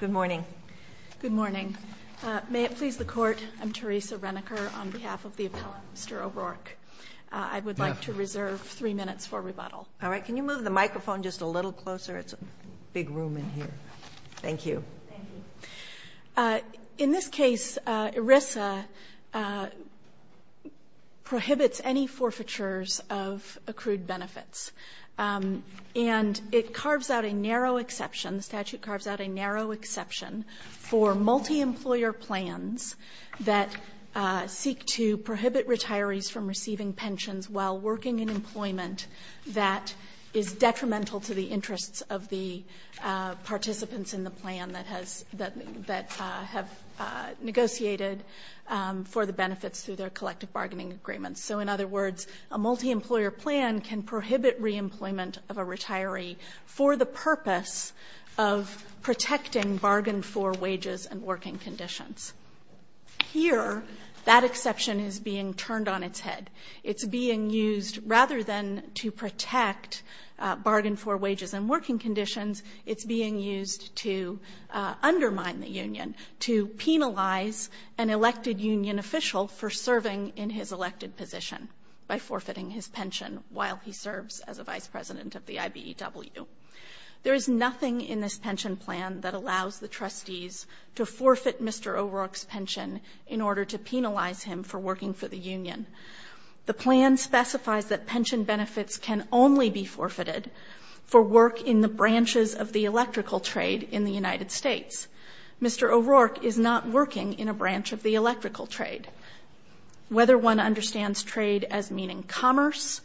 Good morning. Good morning. May it please the Court, I'm Teresa Reneker on behalf of the appellant, Mr. O'Rourke. I would like to reserve three minutes for rebuttal. All right. Can you move the microphone just a little closer? It's a big room in here. Thank you. Thank you. In this case, ERISA prohibits any forfeitures of accrued benefits. And it carves out a narrow exception for multi-employer plans that seek to prohibit retirees from receiving pensions while working in employment that is detrimental to the interests of the participants in the plan that have negotiated for the benefits through their collective bargaining agreements. So in other words, a multi-employer plan can prohibit re-employment of a retiree for the purpose of protecting bargain-for wages and working conditions. Here, that exception is being turned on its head. It's being used, rather than to protect bargain-for wages and working conditions, it's being used to undermine the union, to penalize an elected union official for serving in his elected position by forfeiting his pension while he serves as a vice president of the IBEW. There is nothing in this pension plan that allows the trustees to forfeit Mr. O'Rourke's pension in order to penalize him for working for the union. The plan specifies that pension benefits can only be forfeited for work in the branches of the electrical trade in the United States. Mr. O'Rourke is not working in a branch of the electrical trade. Whether one understands trade as meaning commerce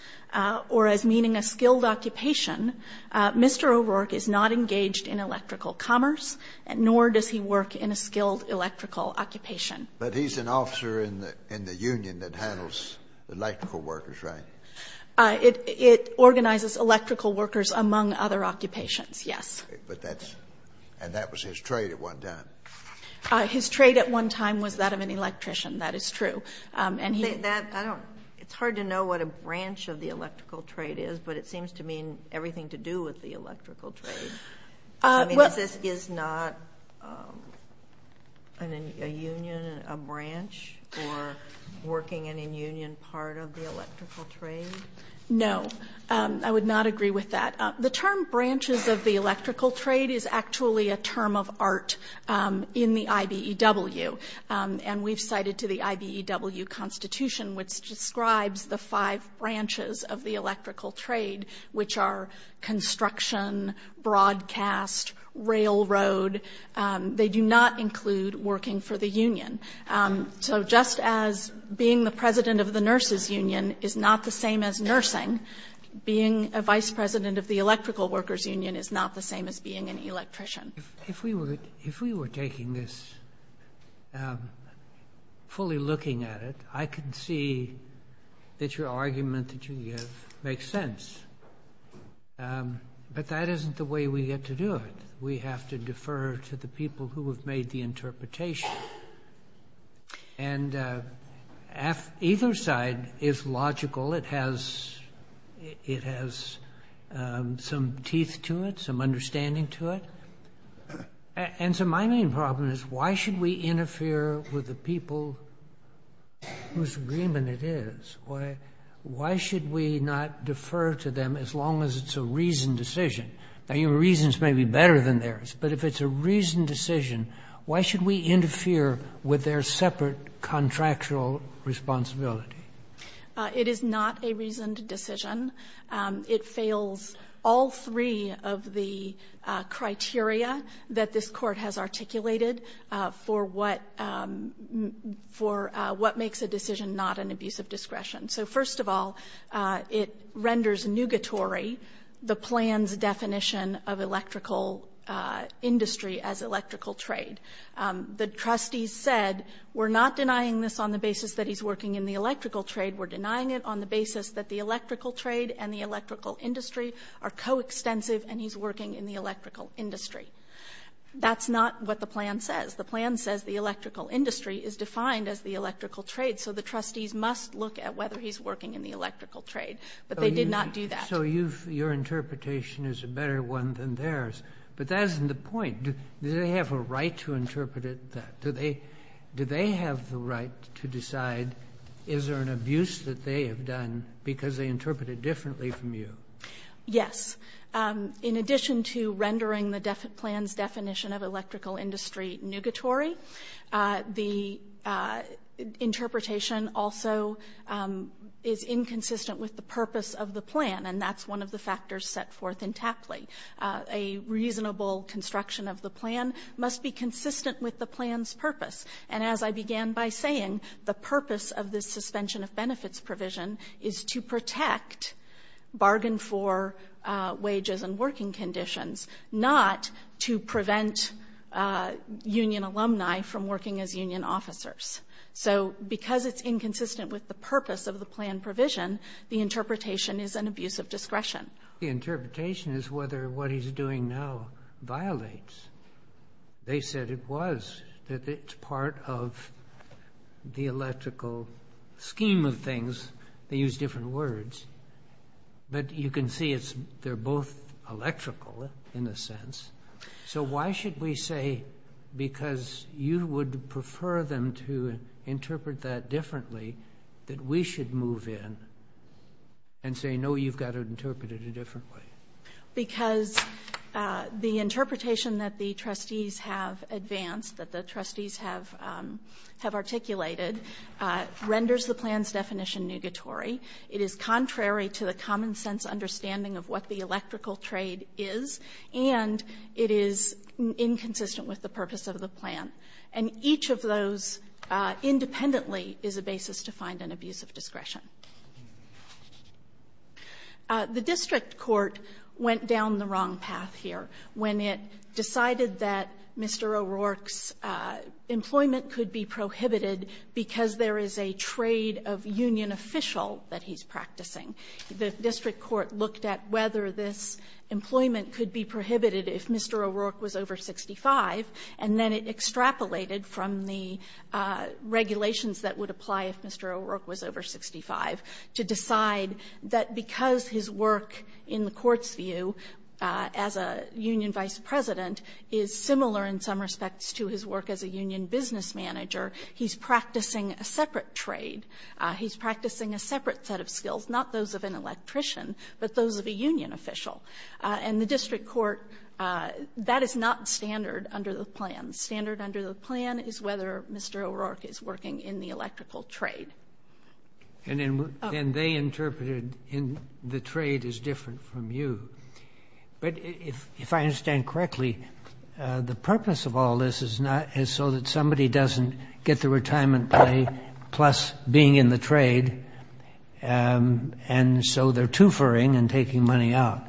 or as meaning a skilled occupation, Mr. O'Rourke is not engaged in electrical commerce, nor does he work in a skilled electrical occupation. But he's an officer in the union that handles electrical workers, right? It organizes electrical workers among other occupations, yes. But that's and that was his trade at one time. His trade at one time was that of an electrician. That is true. And that, I don't, it's hard to know what a branch of the electrical trade is, but it seems to mean everything to do with the electrical trade. I mean, is this is not a union, a branch, or working in a union part of the electrical trade? No, I would not agree with that. The term branches of the electrical trade is actually a term of art in the IBEW. And we've cited to the IBEW constitution which describes the five branches of the electrical trade, which are construction, broadcast, railroad. They do not include working for the union. So just as being the president of the nurses union is not the same as nursing, being a vice president of the electrical workers union is not the same as being an electrician. If we were taking this fully looking at it, I can see that your argument that you give makes sense. But that isn't the way we get to do it. We have to defer to the people who have made the interpretation. And either side is logical. It has some teeth to it, some understanding to it. And so my main problem is, why should we interfere with the people whose agreement it is? Why should we not defer to them as long as it's a reasoned decision? Now, your reasons may be better than theirs, but if it's a reasoned decision, why should we interfere with their separate contractual responsibility? It is not a reasoned decision. It fails all three of the criteria that this Court has articulated for what makes a decision not an abuse of discretion. So first of all, it renders nugatory the plan's definition of electrical industry as electrical trade. The trustees said, we're not denying this on the basis that he's working in the electrical trade. We're denying it on the basis that the electrical trade and the electrical industry are coextensive and he's working in the electrical industry. That's not what the plan says. The plan says the electrical industry is defined as the electrical trade. So the trustees must look at whether he's working in the electrical trade. But they did not do that. So you've — your interpretation is a better one than theirs. But that isn't the point. Do they have a right to interpret it that — do they have the right to decide is there an abuse that they have done because they interpret it differently from you? Yes. In addition to rendering the plan's definition of electrical industry nugatory, the interpretation also is inconsistent with the purpose of the plan. And that's one of the factors set forth in Tapley. A reasonable construction of the plan must be consistent with the plan's purpose. And as I began by saying, the purpose of this suspension of benefits provision is to protect bargain for wages and working conditions, not to prevent union alumni from working as union officers. So because it's inconsistent with the purpose of the plan provision, the interpretation is an abuse of discretion. The interpretation is whether what he's doing now violates. They said it was, that it's part of the electrical scheme of things. They use different words. But you can see it's — they're both electrical in a sense. So why should we say, because you would prefer them to interpret that differently, that we should move in and say, no, you've got to interpret it a different way? Because the interpretation that the trustees have advanced, that the trustees have articulated, renders the plan's definition nugatory. It is contrary to the common-sense understanding of what the electrical trade is, and it is inconsistent with the purpose of the plan. And each of those independently is a basis to find an abuse of discretion. The district court went down the wrong path here when it decided that Mr. O'Rourke's employment could be prohibited because there is a trade of union official that he's practicing. The district court looked at whether this employment could be prohibited if Mr. O'Rourke was over 65, and then it extrapolated from the regulations that would apply if Mr. O'Rourke was over 65 to decide that because his work in the Court's view as a union vice president is similar in some respects to his work as a union business manager, he's practicing a separate trade. He's practicing a separate set of skills, not those of an electrician, but those of a union official. And the district court — that is not standard under the plan. Standard under the plan is whether Mr. O'Rourke is working in the electrical trade. And then they interpreted in the trade is different from you. But if I understand correctly, the purpose of all this is not — is so that somebody doesn't get the retirement pay plus being in the trade, and so they're twofering and taking money out.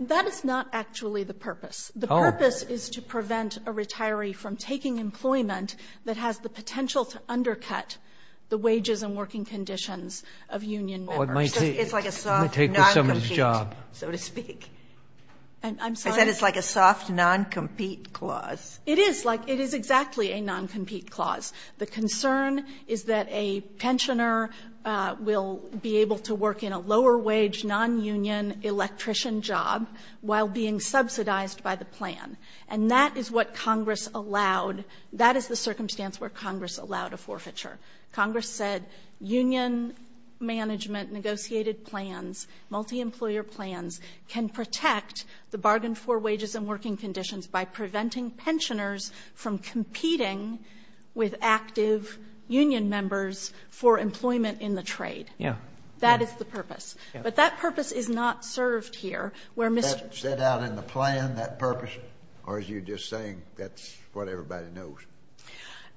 That is not actually the purpose. The purpose is to prevent a retiree from taking employment that has the potential to undercut the wages and working conditions of union members. Sotomayor, it's like a soft non-compete, so to speak. And I'm sorry? I said it's like a soft non-compete clause. It is like — it is exactly a non-compete clause. The concern is that a pensioner will be able to work in a lower-wage, non-union electrician job while being subsidized by the plan. And that is what Congress allowed — that is the circumstance where Congress allowed a forfeiture. Congress said union management negotiated plans, multi-employer plans, can protect the bargain-for wages and working conditions by preventing pensioners from competing with active union members for employment in the trade. Yeah. That is the purpose. Yeah. But that purpose is not served here, where Mr. — Is that set out in the plan, that purpose? Or are you just saying that's what everybody knows?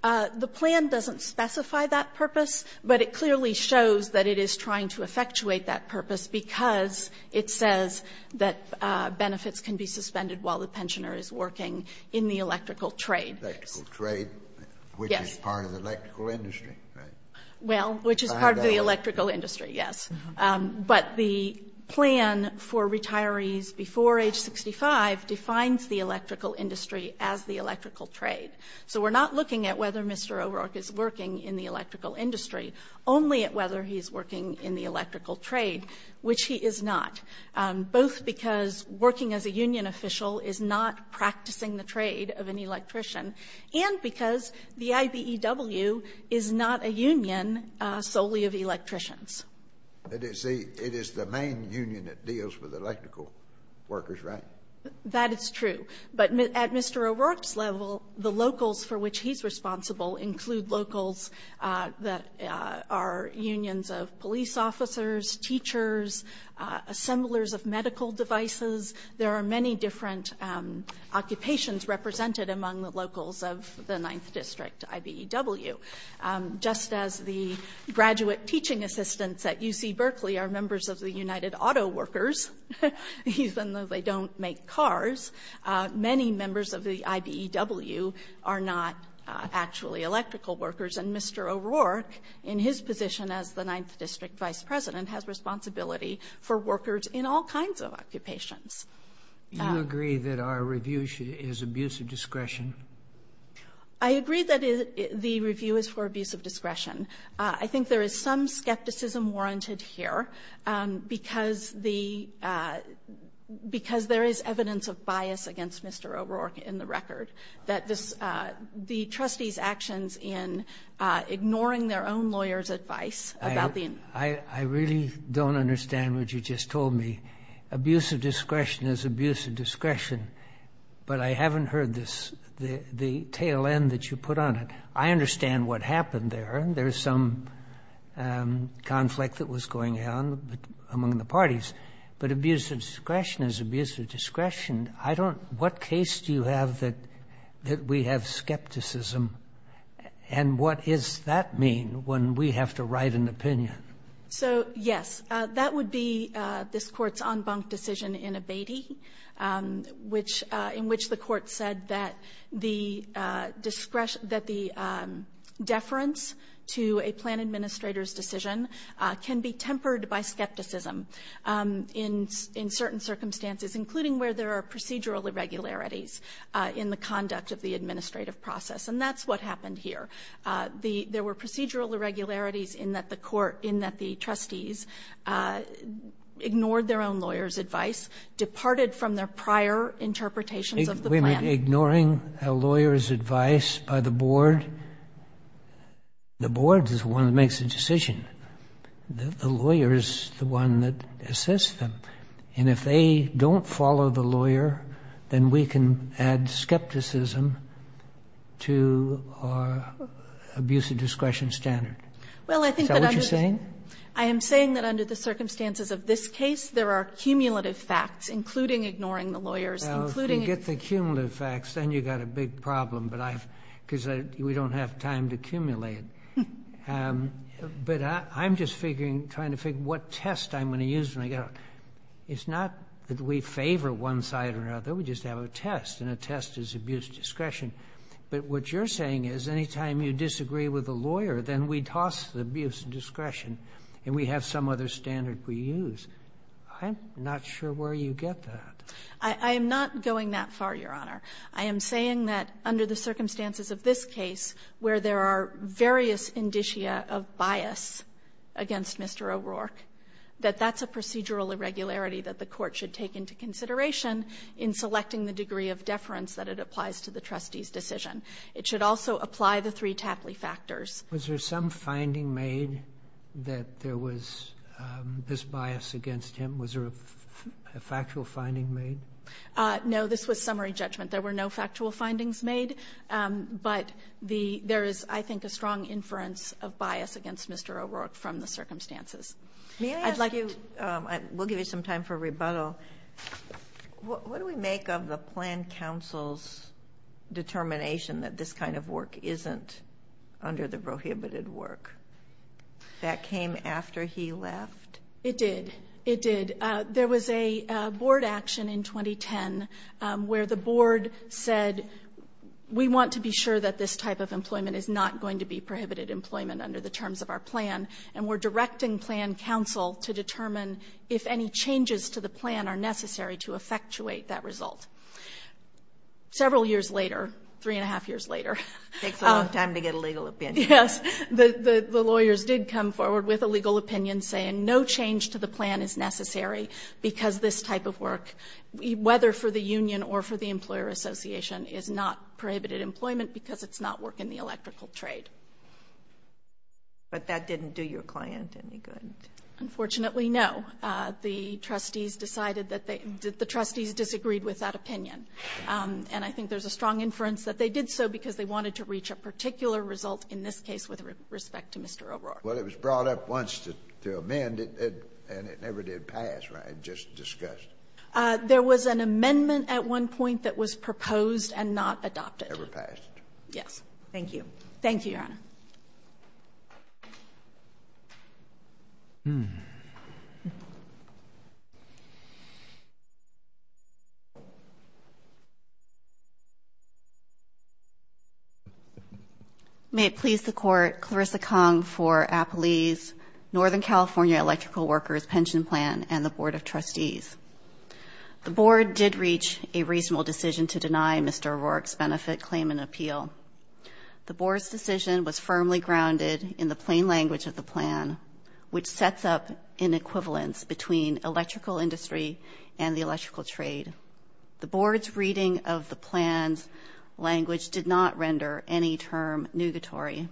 The plan doesn't specify that purpose, but it clearly shows that it is trying to effectuate that purpose because it says that benefits can be suspended while the pensioner is working in the electrical trade. Electrical trade, which is part of the electrical industry, right? Well, which is part of the electrical industry, yes. But the plan for retirees before age 65 defines the electrical industry as the electrical trade. So we're not looking at whether Mr. O'Rourke is working in the electrical industry, only at whether he's working in the electrical trade, which he is not, both because working as a union official is not practicing the trade of an electrician and because the IBEW is not a union solely of electricians. But it's the — it is the main union that deals with electrical workers, right? That is true. But at Mr. O'Rourke's level, the locals for which he's responsible include locals that are unions of police officers, teachers, assemblers of medical devices. There are many different occupations represented among the locals of the 9th District IBEW. Just as the graduate teaching assistants at UC Berkeley are members of the United Auto Workers, even though they don't make cars, many members of the IBEW are not actually electrical workers. And Mr. O'Rourke, in his position as the 9th District vice president, has responsibility for workers in all kinds of occupations. Do you agree that our review is abuse of discretion? I agree that the review is for abuse of discretion. I think there is some skepticism warranted here because the — because there is evidence of bias against Mr. O'Rourke in the record, that the trustees' actions in ignoring their own lawyers' advice about the — I really don't understand what you just told me. Abuse of discretion is abuse of discretion. But I haven't heard this — the tail end that you put on it. I understand what happened there. There is some conflict that was going on among the parties. But abuse of discretion is abuse of discretion. I don't — what case do you have that we have skepticism? And what does that mean when we have to write an opinion? So, yes. That would be this Court's en banc decision in Abatey. Which — in which the Court said that the discretion — that the deference to a plan administrator's decision can be tempered by skepticism in certain circumstances, including where there are procedural irregularities in the conduct of the administrative process. And that's what happened here. The — there were procedural irregularities in that the Court — in that the trustees ignored their own lawyers' advice, departed from their prior interpretations of the plan. Wait a minute. Ignoring a lawyer's advice by the board? The board is the one that makes the decision. The lawyer is the one that assists them. And if they don't follow the lawyer, then we can add skepticism to our abuse of discretion standard. Is that what you're saying? I am saying that under the circumstances of this case, there are cumulative facts, including ignoring the lawyers, including — Well, if you get the cumulative facts, then you've got a big problem, but I've — because I — we don't have time to accumulate. But I'm just figuring — trying to figure what test I'm going to use when I get out. It's not that we favor one side or another. We just have a test, and a test is abuse of discretion. But what you're saying is any time you disagree with a lawyer, then we toss the abuse of discretion. And we have some other standard we use. I'm not sure where you get that. I am not going that far, Your Honor. I am saying that under the circumstances of this case, where there are various indicia of bias against Mr. O'Rourke, that that's a procedural irregularity that the court should take into consideration in selecting the degree of deference that it applies to the trustee's decision. It should also apply the three Tappley factors. Was there some finding made that there was this bias against him? Was there a factual finding made? No. This was summary judgment. There were no factual findings made, but the — there is, I think, a strong inference of bias against Mr. O'Rourke from the circumstances. May I ask you — we'll give you some time for rebuttal. What do we make of the planned counsel's determination that this kind of work isn't under the prohibited work? That came after he left? It did. It did. There was a board action in 2010 where the board said, we want to be sure that this type of employment is not going to be prohibited employment under the terms of our plan, and we're directing planned counsel to determine if any changes to the plan are necessary to effectuate that result. Several years later, three and a half years later — It takes a long time to get a legal opinion. Yes. The lawyers did come forward with a legal opinion saying no change to the plan is necessary because this type of work, whether for the union or for the employer association, is not prohibited employment because it's not work in the electrical trade. But that didn't do your client any good? Unfortunately, no. The trustees decided that they — the trustees disagreed with that opinion. And I think there's a strong inference that they did so because they wanted to reach a particular result in this case with respect to Mr. O'Rourke. Well, it was brought up once to amend it, and it never did pass, right, just discussed. There was an amendment at one point that was proposed and not adopted. Never passed. Yes. Thank you. Thank you, Your Honor. May it please the Court, Clarissa Kong for Appelee's Northern California Electrical Workers' Pension Plan and the Board of Trustees. The Board did reach a reasonable decision to deny Mr. O'Rourke's benefit claim and appeal. firmly grounded in the plain language of the plan, which sets up an equivalence between electrical industry and the electrical trade. The Board's reading of the plan's language did not render any term nugatory.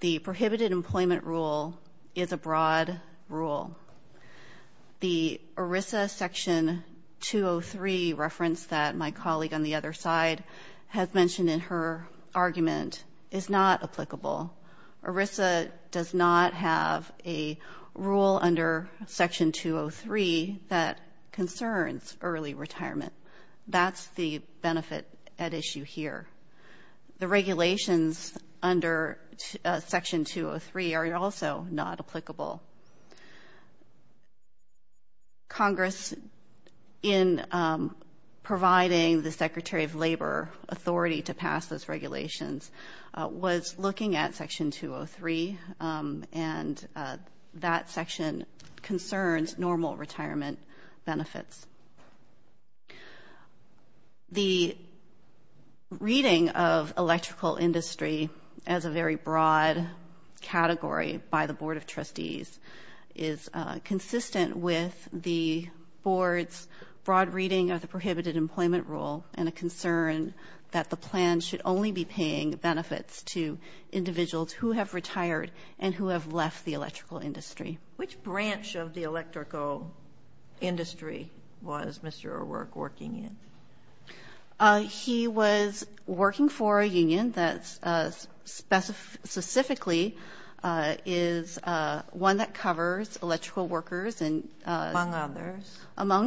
The prohibited employment rule is a broad rule. The ERISA Section 203 reference that my colleague on the other side has is not applicable. ERISA does not have a rule under Section 203 that concerns early retirement. That's the benefit at issue here. The regulations under Section 203 are also not applicable. Congress, in providing the Secretary of Labor authority to pass those looking at Section 203 and that section concerns normal retirement benefits. The reading of electrical industry as a very broad category by the Board of Trustees is consistent with the Board's broad reading of the prohibited employment rule and a concern that the plan should only be paying benefits to individuals who have retired and who have left the electrical industry. Which branch of the electrical industry was Mr. O'Rourke working in? He was working for a union that specifically is one that covers electrical workers and among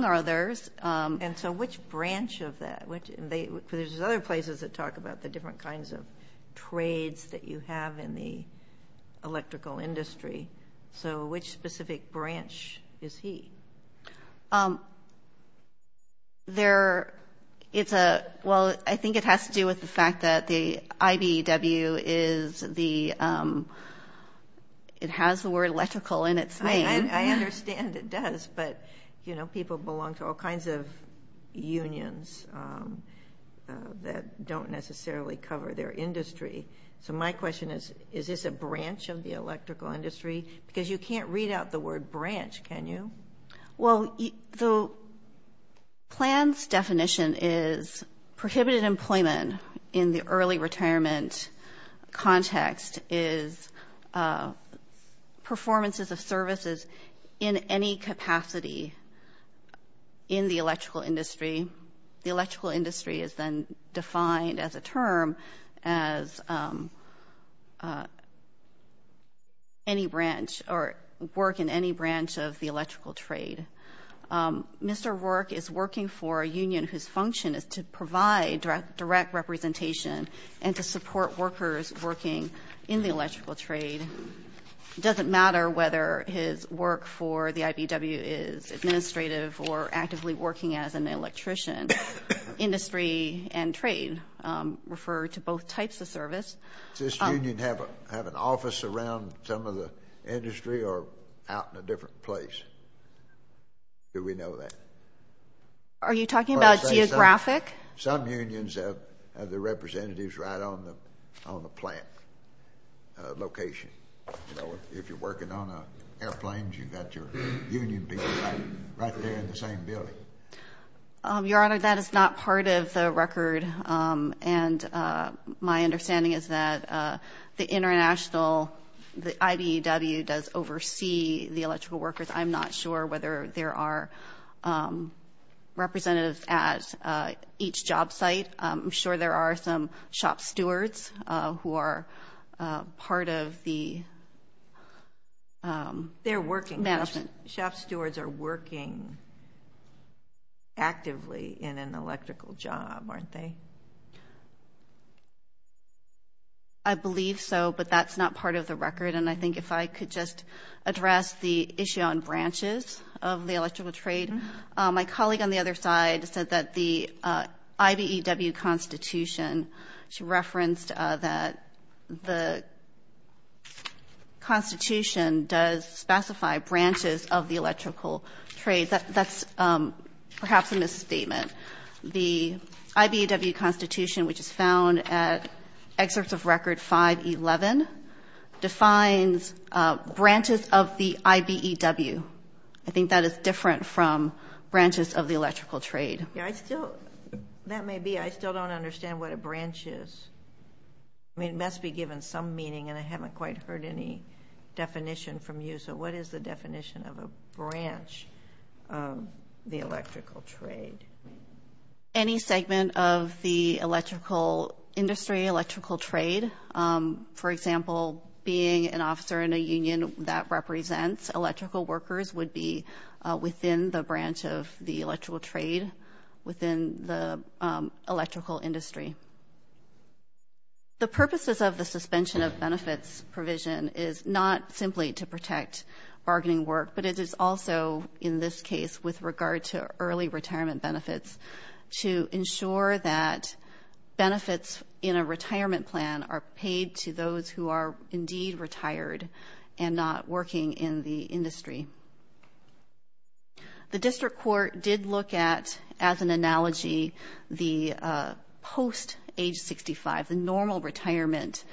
others. And so which branch of that? There's other places that talk about the different kinds of trades that you have in the electrical industry. So which specific branch is he? I think it has to do with the fact that the IBEW, it has the word electrical in its name. I understand it does, but, you know, people belong to all kinds of unions that don't necessarily cover their industry. So my question is, is this a branch of the electrical industry? Because you can't read out the word branch, can you? Well, the plan's definition is prohibited employment in the early retirement context is performances of services in any capacity in the electrical industry. The electrical industry is then defined as a term as any branch or work in any branch of the electrical trade. Mr. O'Rourke is working for a union whose function is to provide direct representation and to support workers working in the electrical trade. It doesn't matter whether his work for the IBEW is administrative or actively working as an electrician. Industry and trade refer to both types of service. Does this union have an office around some of the industry or out in a different place? Do we know that? Are you talking about geographic? Some unions have the representatives right on the plant location. If you're working on airplanes, you've got your union people right there in the same building. Your Honor, that is not part of the record, and my understanding is that the international, the IBEW does oversee the electrical workers. I'm not sure whether there are representatives at each job site. I'm sure there are some shop stewards who are part of the management. They're working. Shop stewards are working actively in an electrical job, aren't they? I believe so, but that's not part of the record. And I think if I could just address the issue on branches of the electrical trade. My colleague on the other side said that the IBEW Constitution, she referenced that the Constitution does specify branches of the electrical trade. That's perhaps a misstatement. The IBEW Constitution, which is found at Excerpts of Record 511, defines branches of the IBEW. I think that is different from branches of the electrical trade. That may be. I still don't understand what a branch is. I mean, it must be given some meaning, and I haven't quite heard any definition from you. So what is the definition of a branch of the electrical trade? Any segment of the electrical industry, electrical trade, for example, being an officer in a union that represents electrical workers would be within the branch of the electrical trade, within the electrical industry. The purposes of the suspension of benefits provision is not simply to protect bargaining work, but it is also, in this case, with regard to early retirement benefits, to ensure that benefits in a retirement plan are paid to those who are indeed retired and not working in the industry. The district court did look at, as an analogy, the post-age 65, the normal retirement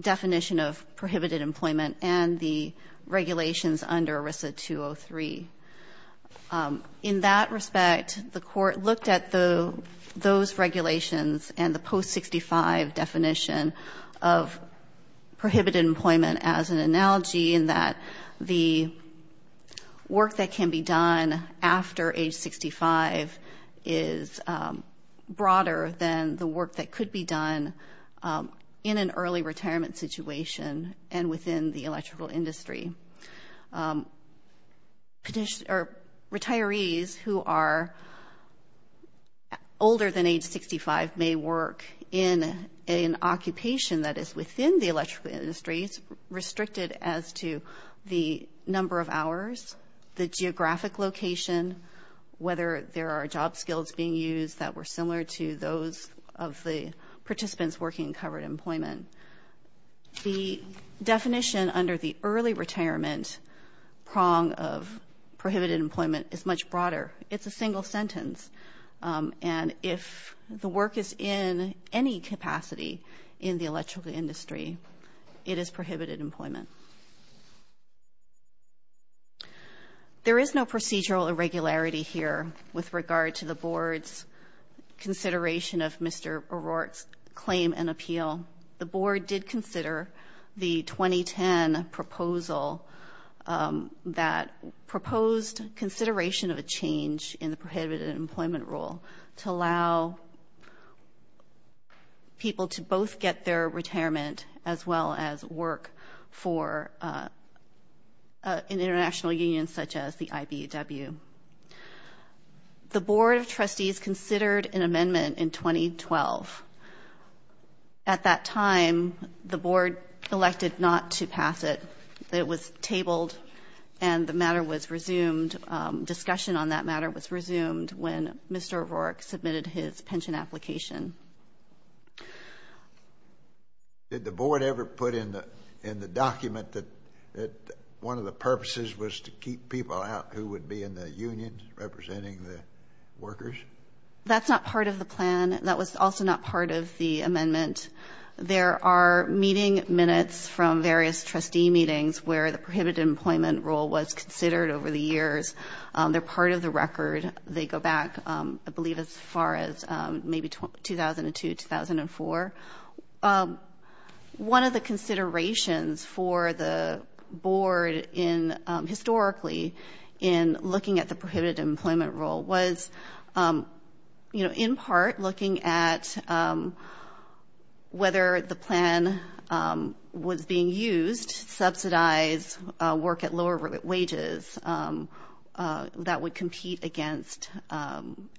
definition of prohibited employment and the regulations under ERISA 203. In that respect, the court looked at those regulations and the post-65 definition of prohibited employment as an analogy, in that the work that can be done after age 65 is broader than the work that could be done in an early retirement situation and within the electrical industry. Retirees who are older than age 65 may work in an occupation that is within the electrical industry. It's restricted as to the number of hours, the geographic location, whether there are job skills being used that were similar to those of the participants working in covered employment. The definition under the early retirement prong of prohibited employment is much broader. It's a single sentence. And if the work is in any capacity in the electrical industry, it is prohibited employment. There is no procedural irregularity here with regard to the board's consideration of Mr. O'Rourke's claim and appeal. The board did consider the 2010 proposal that proposed consideration of a change in the prohibited employment definition and employment rule to allow people to both get their retirement as well as work for an international union such as the IBEW. The board of trustees considered an amendment in 2012. At that time, the board elected not to pass it. And discussion on that matter was resumed when Mr. O'Rourke submitted his pension application. Did the board ever put in the document that one of the purposes was to keep people out who would be in the union representing the workers? That was also not part of the amendment. There are meeting minutes from various trustee meetings where the prohibited employment rule was considered over the years. They're part of the record. They go back, I believe, as far as maybe 2002, 2004. One of the considerations for the board historically in looking at the prohibited employment rule was in part looking at whether the plan was being used to subsidize work at lower wages that would compete against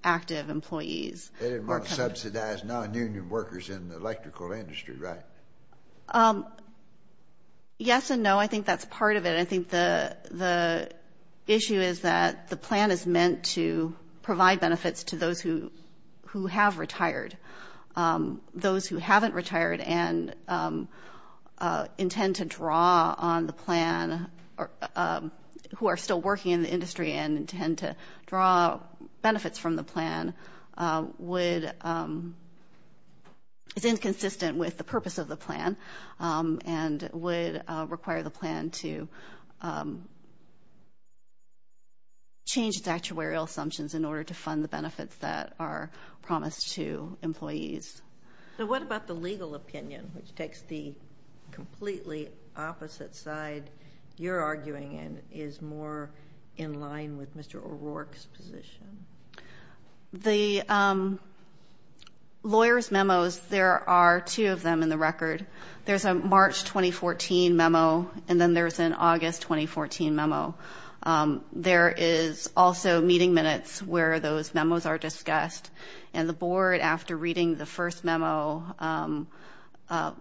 active employees. They didn't want to subsidize nonunion workers in the electrical industry, right? Yes and no. I think that's part of it. I think the issue is that the plan is meant to provide benefits to those who have retired. Those who haven't retired and intend to draw on the plan, who are still working in the industry and intend to draw benefits from the plan, is inconsistent with the purpose of the plan and would require the plan to change its actuarial assumptions in order to fund the benefits that are promised to employees. So what about the legal opinion, which takes the completely opposite side you're arguing and is more in line with Mr. O'Rourke's position? Lawyers' memos, there are two of them in the record. There's a March 2014 memo and then there's an August 2014 memo. There is also meeting minutes where those memos are discussed, and the board, after reading the first memo,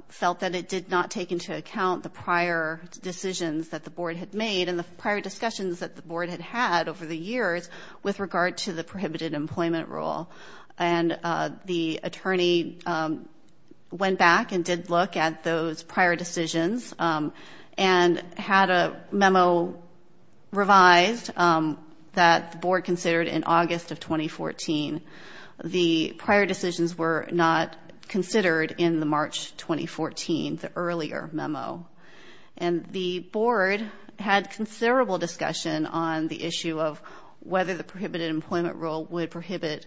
felt that it did not take into account the prior decisions that the board had made and the prior discussions that the board had had over the years with regard to the prohibited employment rule. And the attorney went back and did look at those prior decisions and had a memo revised that the board considered in August of 2014. The prior decisions were not considered in the March 2014, the earlier memo. And the board had considerable discussion on the issue of whether the prohibited employment rule would prohibit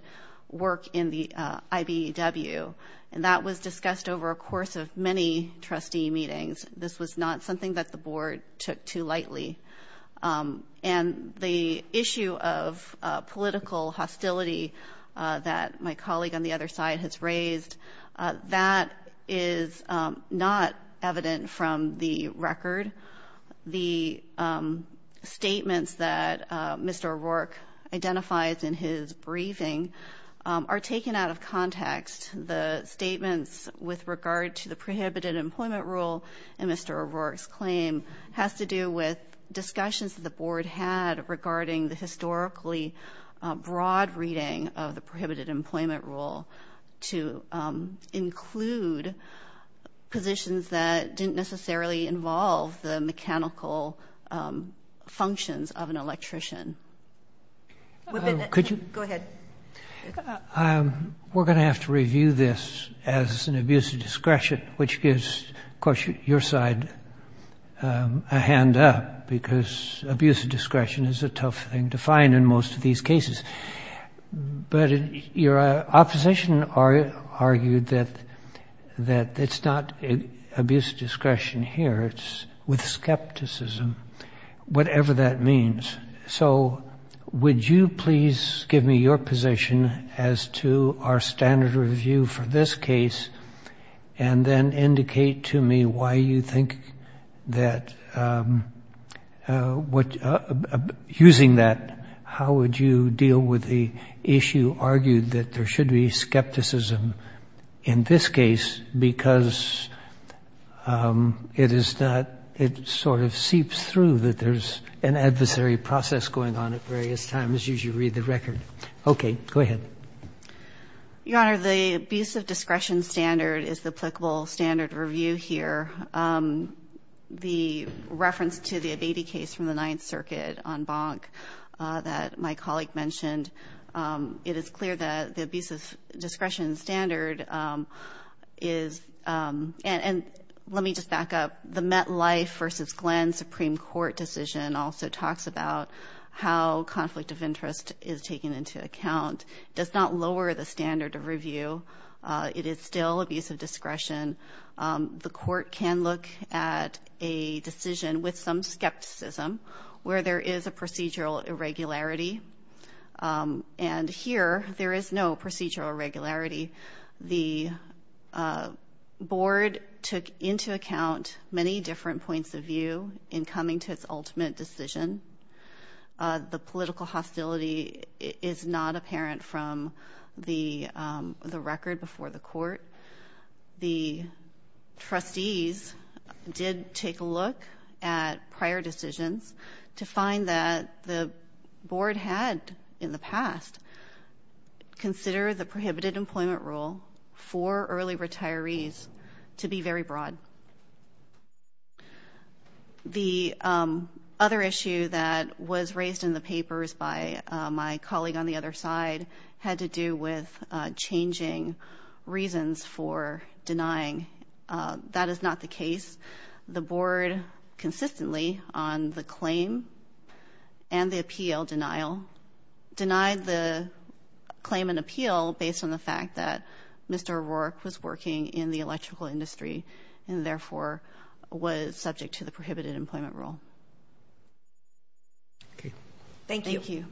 work in the IBEW. And that was discussed over a course of many trustee meetings. This was not something that the board took too lightly. And the issue of political hostility that my colleague on the other side has raised, that is not evident from the record. The statements that Mr. O'Rourke identifies in his briefing are taken out of context. The statements with regard to the prohibited employment rule in Mr. O'Rourke's claim has to do with discussions that the board had regarding the historically broad reading of the prohibited employment rule to include positions that didn't necessarily involve the mechanical functions of an electrician. Go ahead. We're going to have to review this as an abuse of discretion, which gives, of course, your side a hand up, because abuse of discretion is a tough thing to find in most of these cases. But your opposition argued that it's not abuse of discretion here, it's with skepticism, whatever that means. So would you please give me your position as to our standard review for this case, and indicate to me why you think that using that, how would you deal with the issue argued that there should be skepticism in this case, because it is not, it sort of seeps through that there's an adversary process going on at various times as you read the record. Okay. Go ahead. Your Honor, the abuse of discretion standard is the applicable standard review here. The reference to the Abeyti case from the Ninth Circuit on Bonk that my colleague took into account does not lower the standard of review. It is still abuse of discretion. The court can look at a decision with some skepticism, where there is a procedural irregularity. And here there is no procedural irregularity. The board took into account many different points of view in coming to its ultimate decision. The political hostility is not apparent from the record before the court. The trustees did take a look at prior decisions to find that the board had in the past consider the prohibited employment rule for early retirees to be very broad. The other issue that was raised in the papers by my colleague on the other side had to do with changing reasons for denying. That is not the case. The board consistently on the claim and the appeal denial denied the claim and appeal based on the fact that Mr. O'Rourke was working in the electrical industry and therefore was subject to the prohibited employment rule. Thank you.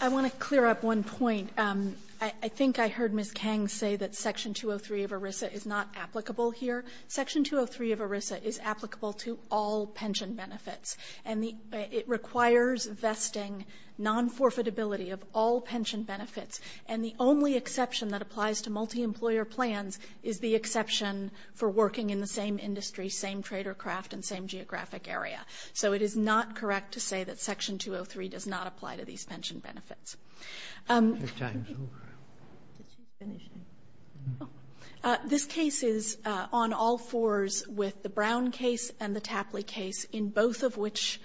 I want to clear up one point. I think I heard Ms. Kang say that section 203 of ERISA is not applicable here. Section 203 of ERISA is applicable to all pension benefits. And it requires vesting non-forfeitability of all pension benefits. And the only exception that applies to multi-employer plans is the exception for working in the same industry, same trade or craft, and same geographic area. So it is not correct to say that section 203 does not apply to these pension benefits. This case is on all fours with the Brown case and the Tapley case, in both of which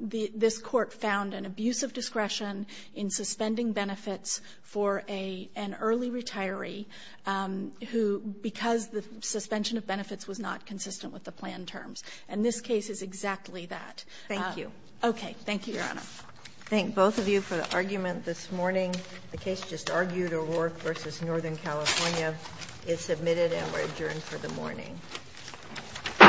this Court found an abuse of discretion in suspending benefits for an early retiree who, because the suspension of benefits was not consistent with the plan terms. And this case is exactly that. Thank you. Okay. Thank you, Your Honor. Thank both of you for the argument this morning. The case just argued, O'Rourke v. Northern California. It's submitted and we're adjourned for the morning. All rise. This Court is in session to stand adjourned.